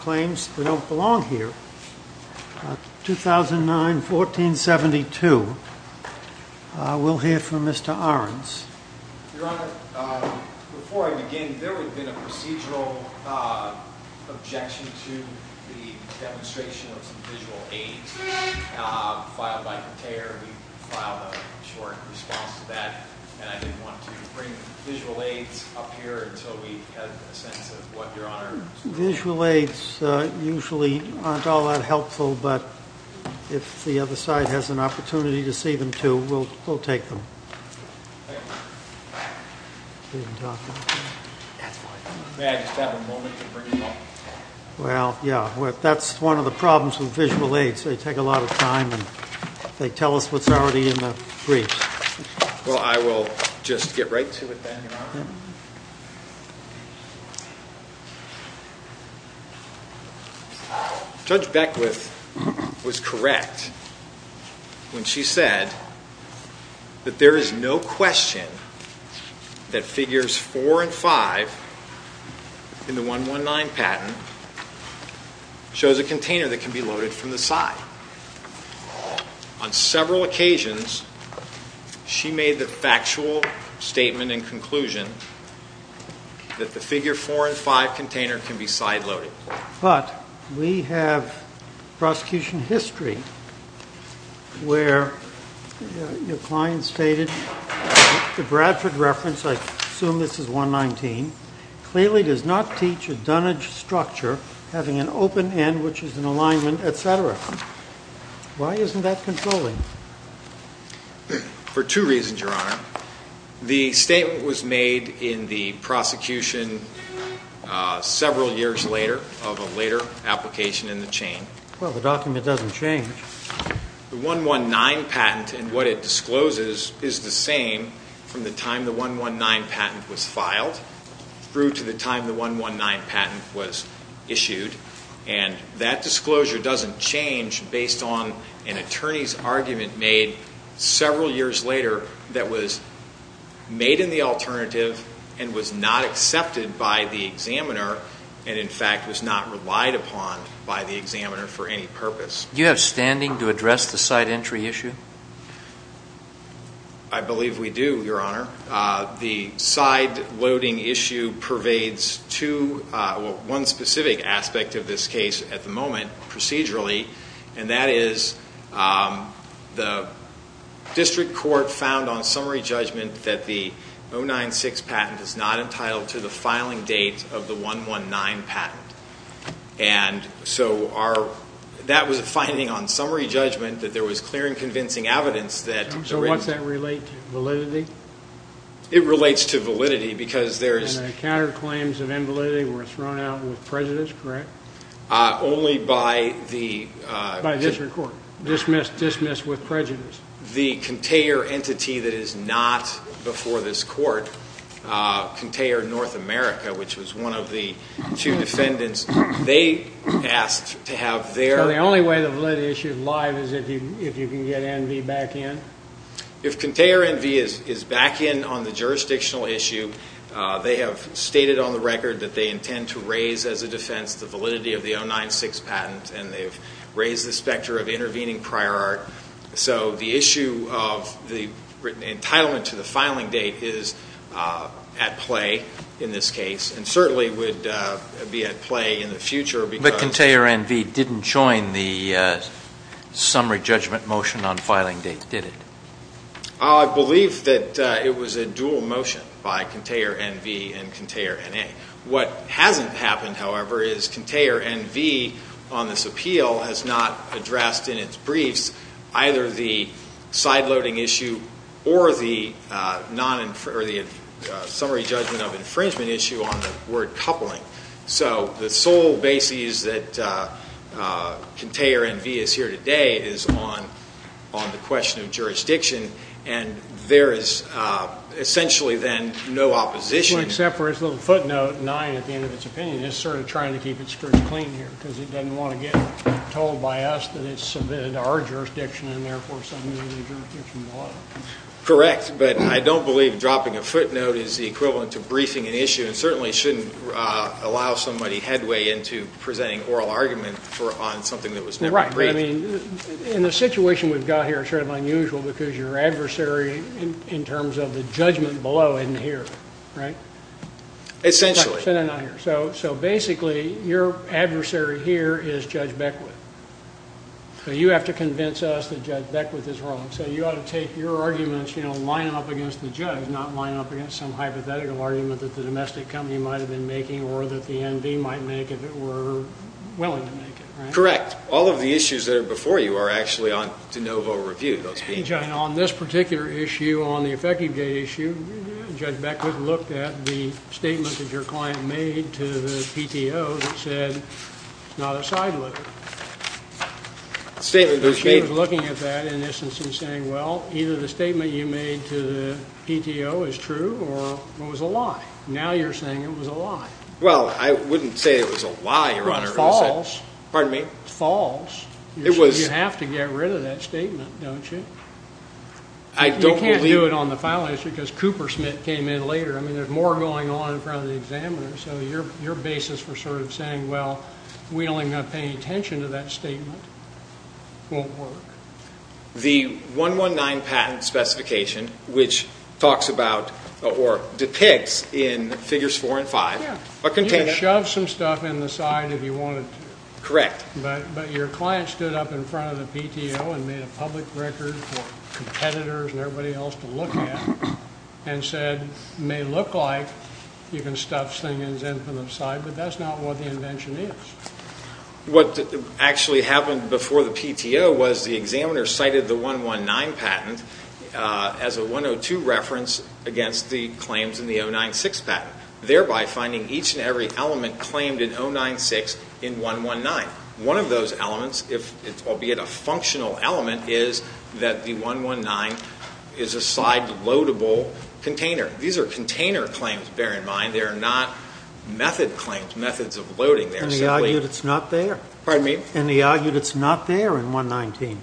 ...claims they don't belong here. 2009-1472. We'll hear from Mr. Ahrens. Your Honor, before I begin, there had been a procedural objection to the demonstration of some visual aids filed by Conteyor. We filed a short response to that. And I didn't want to bring visual aids up here until we had a sense of what Your Honor's... Visual aids usually aren't all that helpful, but if the other side has an opportunity to see them too, we'll take them. Thank you. You didn't talk about that? That's fine. May I just have a moment to bring them up? Well, yeah. That's one of the problems with visual aids. They take a lot of time and they tell us what's already in the briefs. Well, I will just get right to it then. Judge Beckwith was correct when she said that there is no question that figures 4 and 5 in the 119 patent shows a container that can be loaded from the side. On several occasions, she made the factual statement and conclusion that the figure 4 and 5 container can be side loaded. But we have prosecution history where your client stated the Bradford reference, I assume this is 119, clearly does not teach a dunnage structure having an open end which is in alignment, etc. Why isn't that controlling? For two reasons, Your Honor. The statement was made in the prosecution several years later of a later application in the chain. Well, the document doesn't change. The 119 patent and what it discloses is the same from the time the 119 patent was filed through to the time the 119 patent was issued. And that disclosure doesn't change based on an attorney's argument made several years later that was made in the alternative and was not accepted by the examiner and, in fact, was not relied upon by the examiner for any purpose. Do you have standing to address the side entry issue? I believe we do, Your Honor. The side loading issue pervades one specific aspect of this case at the moment procedurally and that is the district court found on summary judgment that the 096 patent is not entitled to the filing date of the 119 patent. And so that was a finding on summary judgment that there was clear and convincing evidence that So what's that relate to? Validity? It relates to validity because there is And the counterclaims of invalidity were thrown out with prejudice, correct? Only by the By district court. Dismissed with prejudice. The Contaer entity that is not before this court, Contaer North America, which was one of the two defendants, they asked to have their So the only way the validity issue is live is if you can get NV back in? If Contaer NV is back in on the jurisdictional issue, they have stated on the record that they intend to raise as a defense the validity of the 096 patent and they've raised the specter of intervening prior art. So the issue of the entitlement to the filing date is at play in this case and certainly would be at play in the future because But Contaer NV didn't join the summary judgment motion on filing date, did it? I believe that it was a dual motion by Contaer NV and Contaer NA. What hasn't happened, however, is Contaer NV on this appeal has not addressed in its briefs either the sideloading issue or the summary judgment of infringement issue on the word coupling. So the sole basis that Contaer NV is here today is on the question of jurisdiction and there is essentially then no opposition Well, except for its little footnote, nine at the end of its opinion. It's sort of trying to keep its skirt clean here because it doesn't want to get told by us that it's submitted to our jurisdiction and therefore submitted to the jurisdiction below. Correct, but I don't believe dropping a footnote is the equivalent to briefing an issue and certainly shouldn't allow somebody headway into presenting oral argument on something that was never briefed. In the situation we've got here it's sort of unusual because your adversary in terms of the judgment below isn't here, right? Essentially. So basically your adversary here is Judge Beckwith. So you have to convince us that Judge Beckwith is wrong. So you ought to take your arguments, you know, line them up against the judge, not line them up against some hypothetical argument that the domestic company might have been making or that the NV might make if it were willing to make it, right? Correct. All of the issues that are before you are actually on de novo review. On this particular issue, on the effective date issue, Judge Beckwith looked at the statement that your client made to the PTO that said it's not a side look. He was looking at that in essence and saying, well, either the statement you made to the PTO is true or it was a lie. Now you're saying it was a lie. Well, I wouldn't say it was a lie, Your Honor. It was false. Pardon me? False. You have to get rid of that statement, don't you? I don't believe... You can't do it on the file issue because Coopersmith came in later. I mean, there's more going on in front of the examiner. So your basis for sort of saying, well, we're only going to pay attention to that statement won't work. The 119 patent specification, which talks about or depicts in figures four and five... You can shove some stuff in the side if you wanted to. Correct. But your client stood up in front of the PTO and made a public record for competitors and everybody else to look at and said, it may look like you can stuff things in from the side, but that's not what the invention is. What actually happened before the PTO was the examiner cited the 119 patent as a 102 reference against the claims in the 096 patent, thereby finding each and every element claimed in 096 in 119. One of those elements, albeit a functional element, is that the 119 is a side-loadable container. These are container claims, bear in mind. They are not method claims, methods of loading. And he argued it's not there. Pardon me? And he argued it's not there in 119.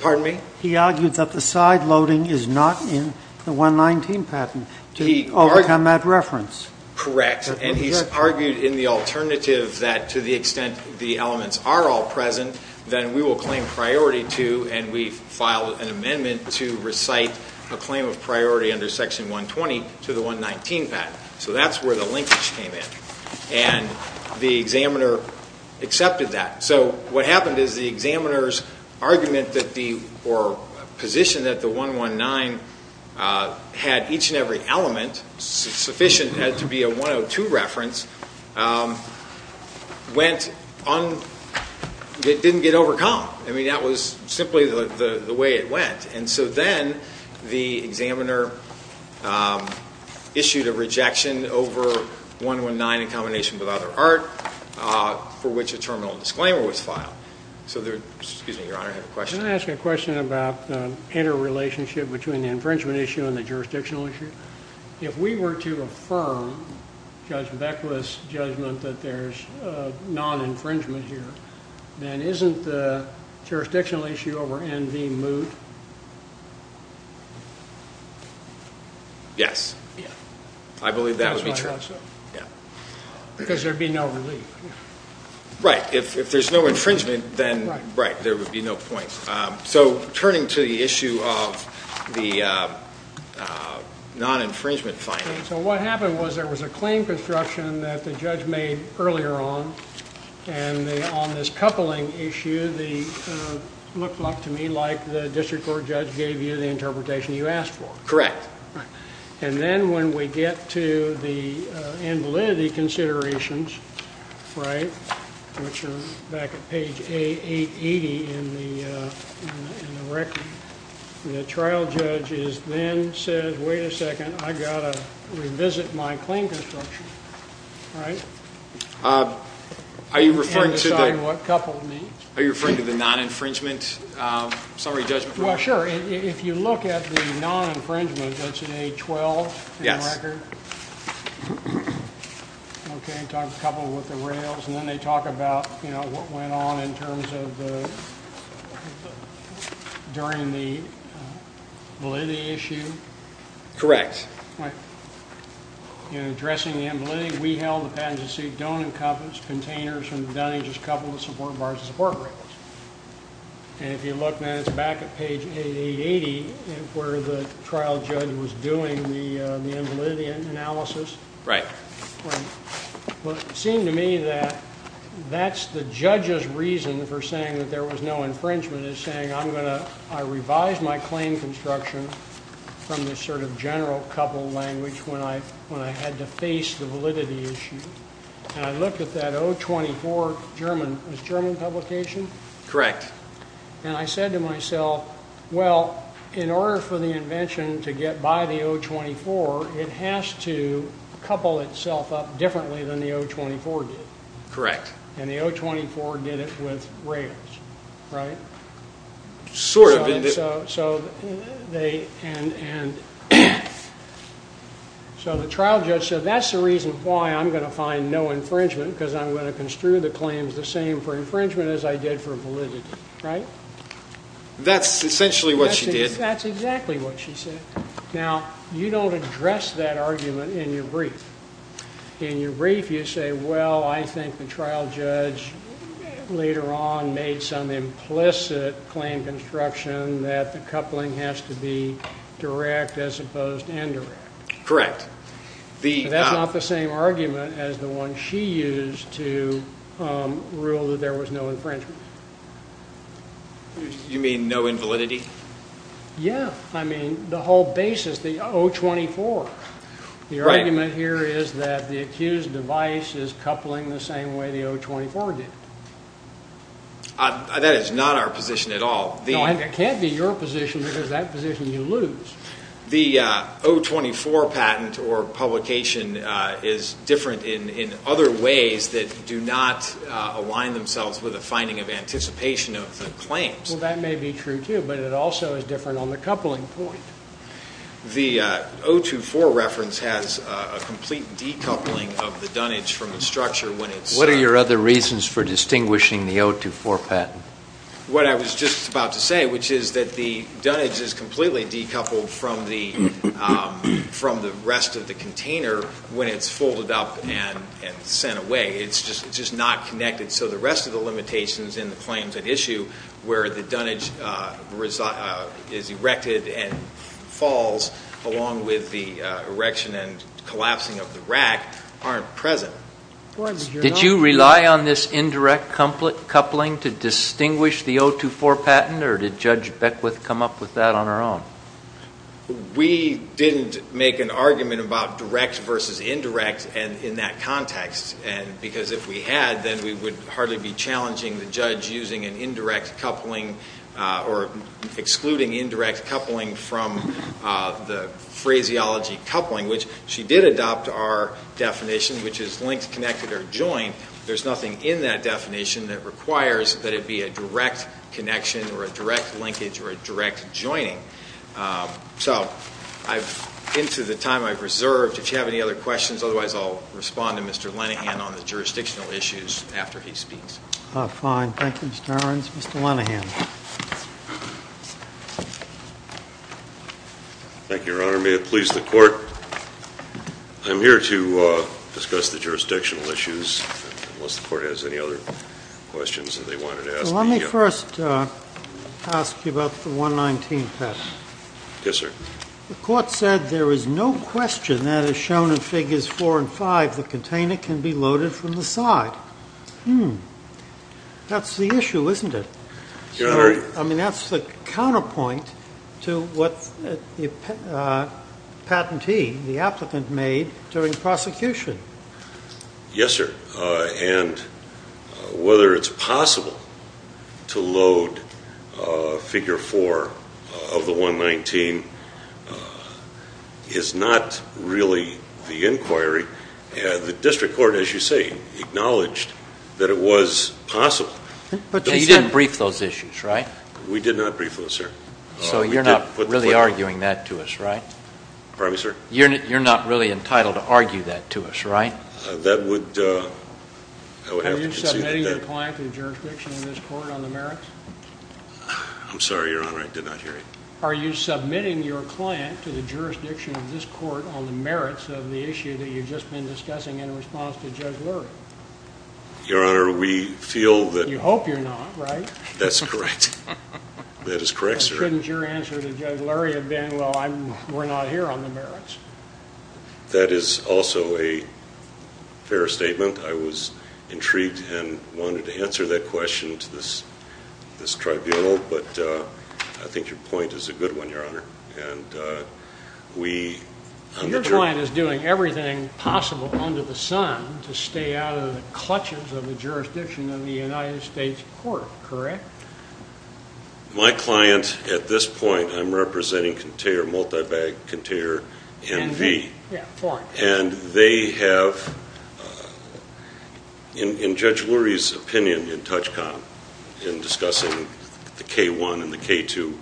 Pardon me? He argued that the side-loading is not in the 119 patent to overcome that reference. Correct. And he's argued in the alternative that to the extent the elements are all present, then we will claim priority to and we file an amendment to recite a claim of priority under Section 120 to the 119 patent. So that's where the linkage came in. And the examiner accepted that. So what happened is the examiner's argument or position that the 119 had each and every element sufficient to be a 102 reference didn't get overcome. I mean, that was simply the way it went. And so then the examiner issued a rejection over 119 in combination with other art for which a terminal disclaimer was filed. Excuse me, Your Honor, I have a question. Can I ask a question about the interrelationship between the infringement issue and the jurisdictional issue? If we were to affirm Judge Beckwith's judgment that there's non-infringement here, then isn't the jurisdictional issue over N.V. moot? Yes. I believe that would be true. Because there would be no relief. Right. If there's no infringement, then there would be no point. So turning to the issue of the non-infringement finding. So what happened was there was a claim construction that the judge made earlier on. And on this coupling issue, it looked to me like the district court judge gave you the interpretation you asked for. Correct. And then when we get to the invalidity considerations, right, which are back at page 880 in the record, the trial judge then says, wait a second, I've got to revisit my claim construction. Right? Are you referring to the non-infringement summary judgment? Well, sure. If you look at the non-infringement, that's in A12 in the record. Yes. Okay. It talks a couple with the rails. And then they talk about, you know, what went on in terms of during the validity issue. Correct. Right. In addressing the invalidity, we held the patented suit don't encompass containers from Dunning's couple of support bars and support rails. And if you look now, it's back at page 880 where the trial judge was doing the invalidity analysis. Right. But it seemed to me that that's the judge's reason for saying that there was no infringement, is saying I'm going to ‑‑ I revised my claim construction from this sort of general couple language when I had to face the validity issue. And I looked at that O24 German publication. Correct. And I said to myself, well, in order for the invention to get by the O24, it has to couple itself up differently than the O24 did. Correct. And the O24 did it with rails. Right? Sort of. And so the trial judge said that's the reason why I'm going to find no infringement, because I'm going to construe the claims the same for infringement as I did for validity. Right? That's essentially what she did. That's exactly what she said. Now, you don't address that argument in your brief. In your brief you say, well, I think the trial judge later on made some implicit claim construction that the coupling has to be direct as opposed to indirect. Correct. That's not the same argument as the one she used to rule that there was no infringement. You mean no invalidity? Yeah. I mean the whole basis, the O24. Right. The argument here is that the accused device is coupling the same way the O24 did it. That is not our position at all. It can't be your position because that position you lose. The O24 patent or publication is different in other ways that do not align themselves with a finding of anticipation of the claims. Well, that may be true, too, but it also is different on the coupling point. The O24 reference has a complete decoupling of the dunnage from the structure. What are your other reasons for distinguishing the O24 patent? What I was just about to say, which is that the dunnage is completely decoupled from the rest of the container when it's folded up and sent away. It's just not connected. So the rest of the limitations in the claims at issue where the dunnage is erected and falls along with the erection and collapsing of the rack aren't present. Did you rely on this indirect coupling to distinguish the O24 patent or did Judge Beckwith come up with that on her own? We didn't make an argument about direct versus indirect in that context because if we had, then we would hardly be challenging the judge using an indirect coupling or excluding indirect coupling from the phraseology coupling, which she did adopt our definition, which is linked, connected, or joined. There's nothing in that definition that requires that it be a direct connection or a direct linkage or a direct joining. So into the time I've reserved, if you have any other questions, otherwise I'll respond to Mr. Lenahan on the jurisdictional issues after he speaks. Fine. Thank you, Mr. Irons. Mr. Lenahan. Thank you, Your Honor. May it please the Court. I'm here to discuss the jurisdictional issues, unless the Court has any other questions that they wanted to ask me. Let me first ask you about the 119 patent. Yes, sir. The Court said there is no question that is shown in Figures 4 and 5 the container can be loaded from the side. Hmm. That's the issue, isn't it? Your Honor. I mean, that's the counterpoint to what the patentee, the applicant, made during prosecution. Yes, sir. And whether it's possible to load Figure 4 of the 119 is not really the inquiry. The district court, as you say, acknowledged that it was possible. But you didn't brief those issues, right? We did not brief those, sir. So you're not really arguing that to us, right? Pardon me, sir? You're not really entitled to argue that to us, right? That would, uh, I would have to concede that. Are you submitting your client to the jurisdiction of this Court on the merits? I'm sorry, Your Honor. I did not hear you. Are you submitting your client to the jurisdiction of this Court on the merits of the issue that you've just been discussing in response to Judge Lurie? Your Honor, we feel that... You hope you're not, right? That's correct. That is correct, sir. But couldn't your answer to Judge Lurie have been, well, we're not here on the merits? That is also a fair statement. I was intrigued and wanted to answer that question to this tribunal, but I think your point is a good one, Your Honor. Your client is doing everything possible under the sun to stay out of the clutches of the jurisdiction of the United States Court, correct? My client at this point, I'm representing container, multi-bag container MV. Yeah, foreign. And they have, in Judge Lurie's opinion in Touchcom in discussing the K-1 and the K-2,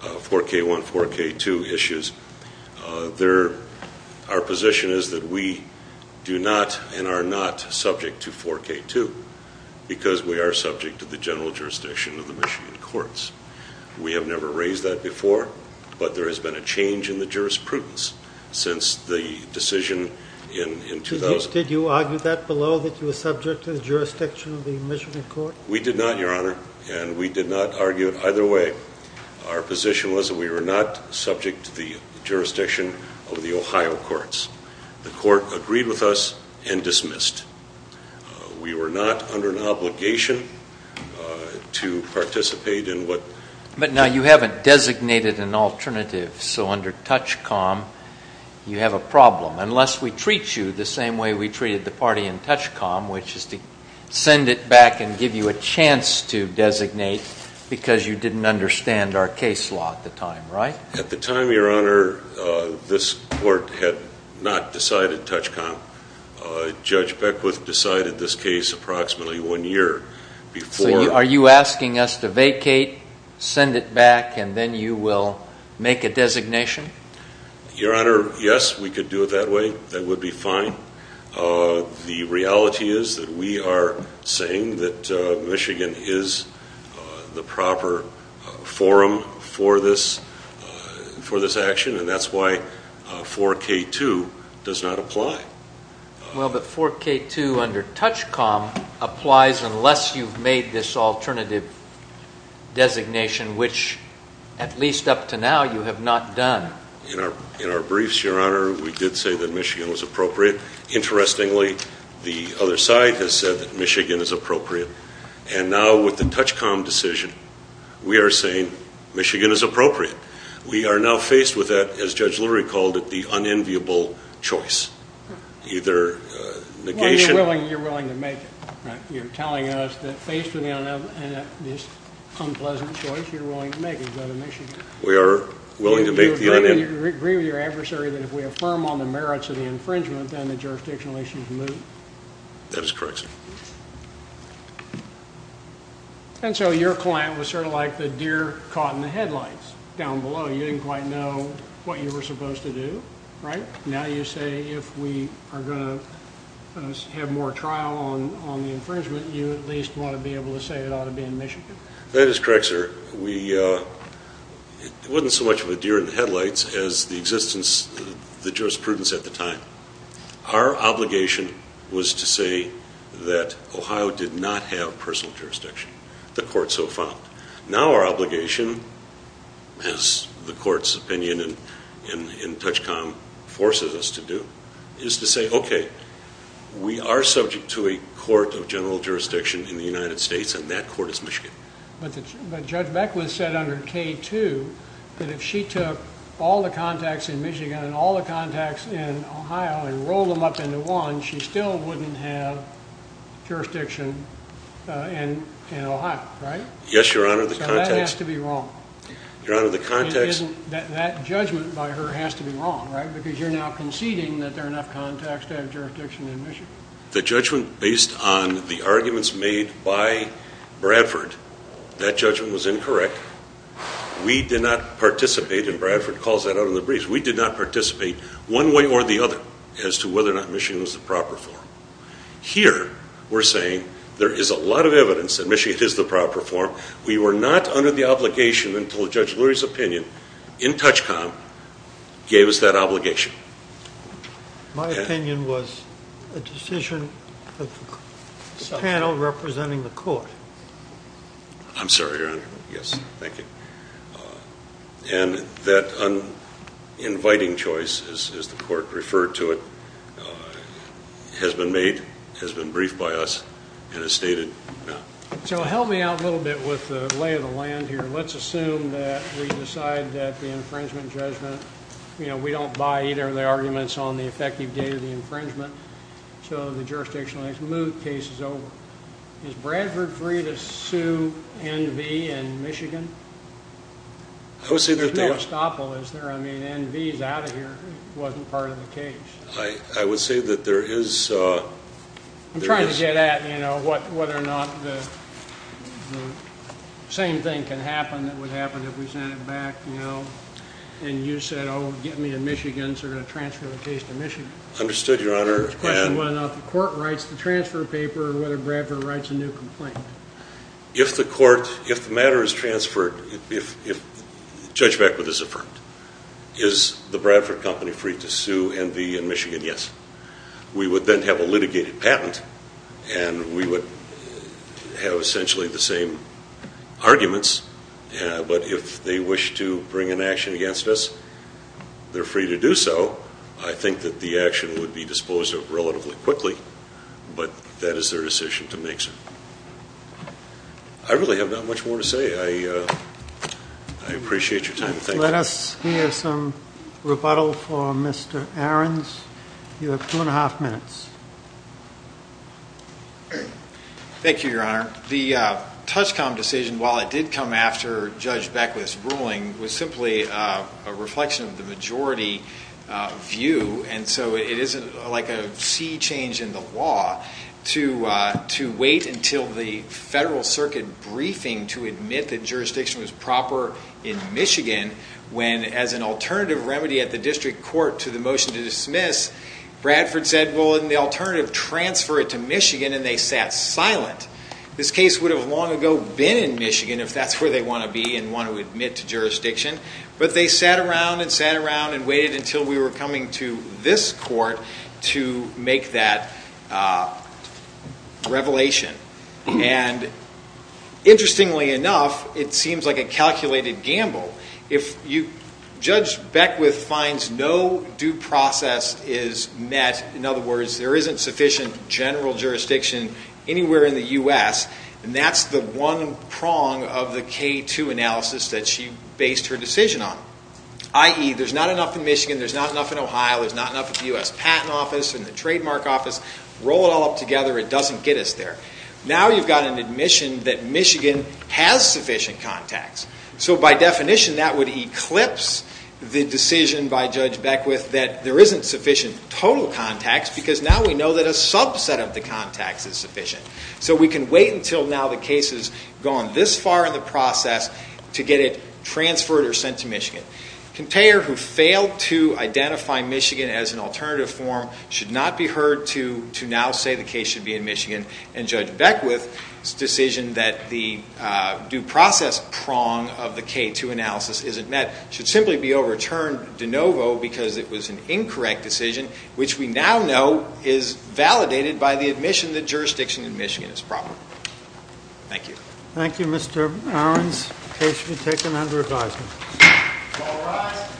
4K-1, 4K-2 issues, our position is that we do not and are not subject to 4K-2 because we are subject to the general jurisdiction of the Michigan Courts. We have never raised that before, but there has been a change in the jurisprudence since the decision in 2000. Did you argue that below, that you were subject to the jurisdiction of the Michigan Court? We did not, Your Honor, and we did not argue it either way. Our position was that we were not subject to the jurisdiction of the Ohio Courts. The Court agreed with us and dismissed. We were not under an obligation to participate in what- But now you haven't designated an alternative, so under Touchcom you have a problem, unless we treat you the same way we treated the party in Touchcom, which is to send it back and give you a chance to designate because you didn't understand our case law at the time, right? At the time, Your Honor, this Court had not decided Touchcom. Judge Beckwith decided this case approximately one year before- So are you asking us to vacate, send it back, and then you will make a designation? Your Honor, yes, we could do it that way. That would be fine. The reality is that we are saying that Michigan is the proper forum for this action, and that's why 4K2 does not apply. Well, but 4K2 under Touchcom applies unless you've made this alternative designation, which, at least up to now, you have not done. In our briefs, Your Honor, we did say that Michigan was appropriate. Interestingly, the other side has said that Michigan is appropriate, and now with the Touchcom decision, we are saying Michigan is appropriate. We are now faced with that, as Judge Lurie called it, the unenviable choice. Either negation- Well, you're willing to make it, right? You're telling us that faced with this unpleasant choice, you're willing to make it, is that a Michigan? We are willing to make the unen- Do you agree with your adversary that if we affirm on the merits of the infringement, then the jurisdictional issue is moved? That is correct, sir. And so your client was sort of like the deer caught in the headlights down below. You didn't quite know what you were supposed to do, right? Now you say if we are going to have more trial on the infringement, That is correct, sir. It wasn't so much of a deer in the headlights as the jurisprudence at the time. Our obligation was to say that Ohio did not have personal jurisdiction. The court so found. Now our obligation, as the court's opinion in Touchcom forces us to do, is to say, okay, we are subject to a court of general jurisdiction in the United States, and that court is Michigan. But Judge Beckwith said under K-2 that if she took all the contacts in Michigan and all the contacts in Ohio and rolled them up into one, she still wouldn't have jurisdiction in Ohio, right? Yes, Your Honor. So that has to be wrong. Your Honor, the context- That judgment by her has to be wrong, right? Because you're now conceding that there are enough contacts to have jurisdiction in Michigan. The judgment based on the arguments made by Bradford, that judgment was incorrect. We did not participate, and Bradford calls that out in the briefs, we did not participate one way or the other as to whether or not Michigan was the proper form. Here we're saying there is a lot of evidence that Michigan is the proper form. We were not under the obligation until Judge Lurie's opinion in Touchcom gave us that obligation. My opinion was a decision of the panel representing the court. I'm sorry, Your Honor. Yes, thank you. And that uninviting choice, as the court referred to it, has been made, has been briefed by us, and is stated now. So help me out a little bit with the lay of the land here. Let's assume that we decide that the infringement judgment, you know, we don't buy either of the arguments on the effective date of the infringement, so the jurisdictional case is over. Is Bradford free to sue NV in Michigan? There's no estoppel, is there? I mean, NV is out of here. It wasn't part of the case. I would say that there is- I'm trying to get at, you know, whether or not the same thing can happen that would happen if we sent it back, you know, and you said, oh, get me a Michigan, so we're going to transfer the case to Michigan. Understood, Your Honor. The question is whether or not the court writes the transfer paper or whether Bradford writes a new complaint. If the matter is transferred, if Judge Beckwith is affirmed, is the Bradford Company free to sue NV in Michigan? Yes. We would then have a litigated patent, and we would have essentially the same arguments, but if they wish to bring an action against us, they're free to do so. I think that the action would be disposed of relatively quickly, but that is their decision to make, sir. I really have not much more to say. I appreciate your time. Thank you. Let us hear some rebuttal for Mr. Ahrens. You have two and a half minutes. Thank you, Your Honor. The Touchcom decision, while it did come after Judge Beckwith's ruling, was simply a reflection of the majority view, and so it isn't like a sea change in the law to wait until the Federal Circuit briefing to admit that jurisdiction was proper in Michigan when, as an alternative remedy at the district court to the motion to dismiss, Bradford said, well, in the alternative, transfer it to Michigan, and they sat silent. This case would have long ago been in Michigan if that's where they want to be and want to admit to jurisdiction, but they sat around and sat around and waited until we were coming to this court to make that revelation, and interestingly enough, it seems like a calculated gamble. If Judge Beckwith finds no due process is met, in other words, there isn't sufficient general jurisdiction anywhere in the U.S., and that's the one prong of the K-2 analysis that she based her decision on, i.e., there's not enough in Michigan, there's not enough in Ohio, there's not enough at the U.S. Patent Office and the Trademark Office. Roll it all up together. It doesn't get us there. Now you've got an admission that Michigan has sufficient contacts, so by definition that would eclipse the decision by Judge Beckwith that there isn't sufficient total contacts because now we know that a subset of the contacts is sufficient. So we can wait until now the case has gone this far in the process to get it transferred or sent to Michigan. Contayer, who failed to identify Michigan as an alternative form, should not be heard to now say the case should be in Michigan, and Judge Beckwith's decision that the due process prong of the K-2 analysis isn't met should simply be overturned de novo because it was an incorrect decision, which we now know is validated by the admission that jurisdiction in Michigan is proper. Thank you. Thank you, Mr. Owens. The case will be taken under advisement. All rise.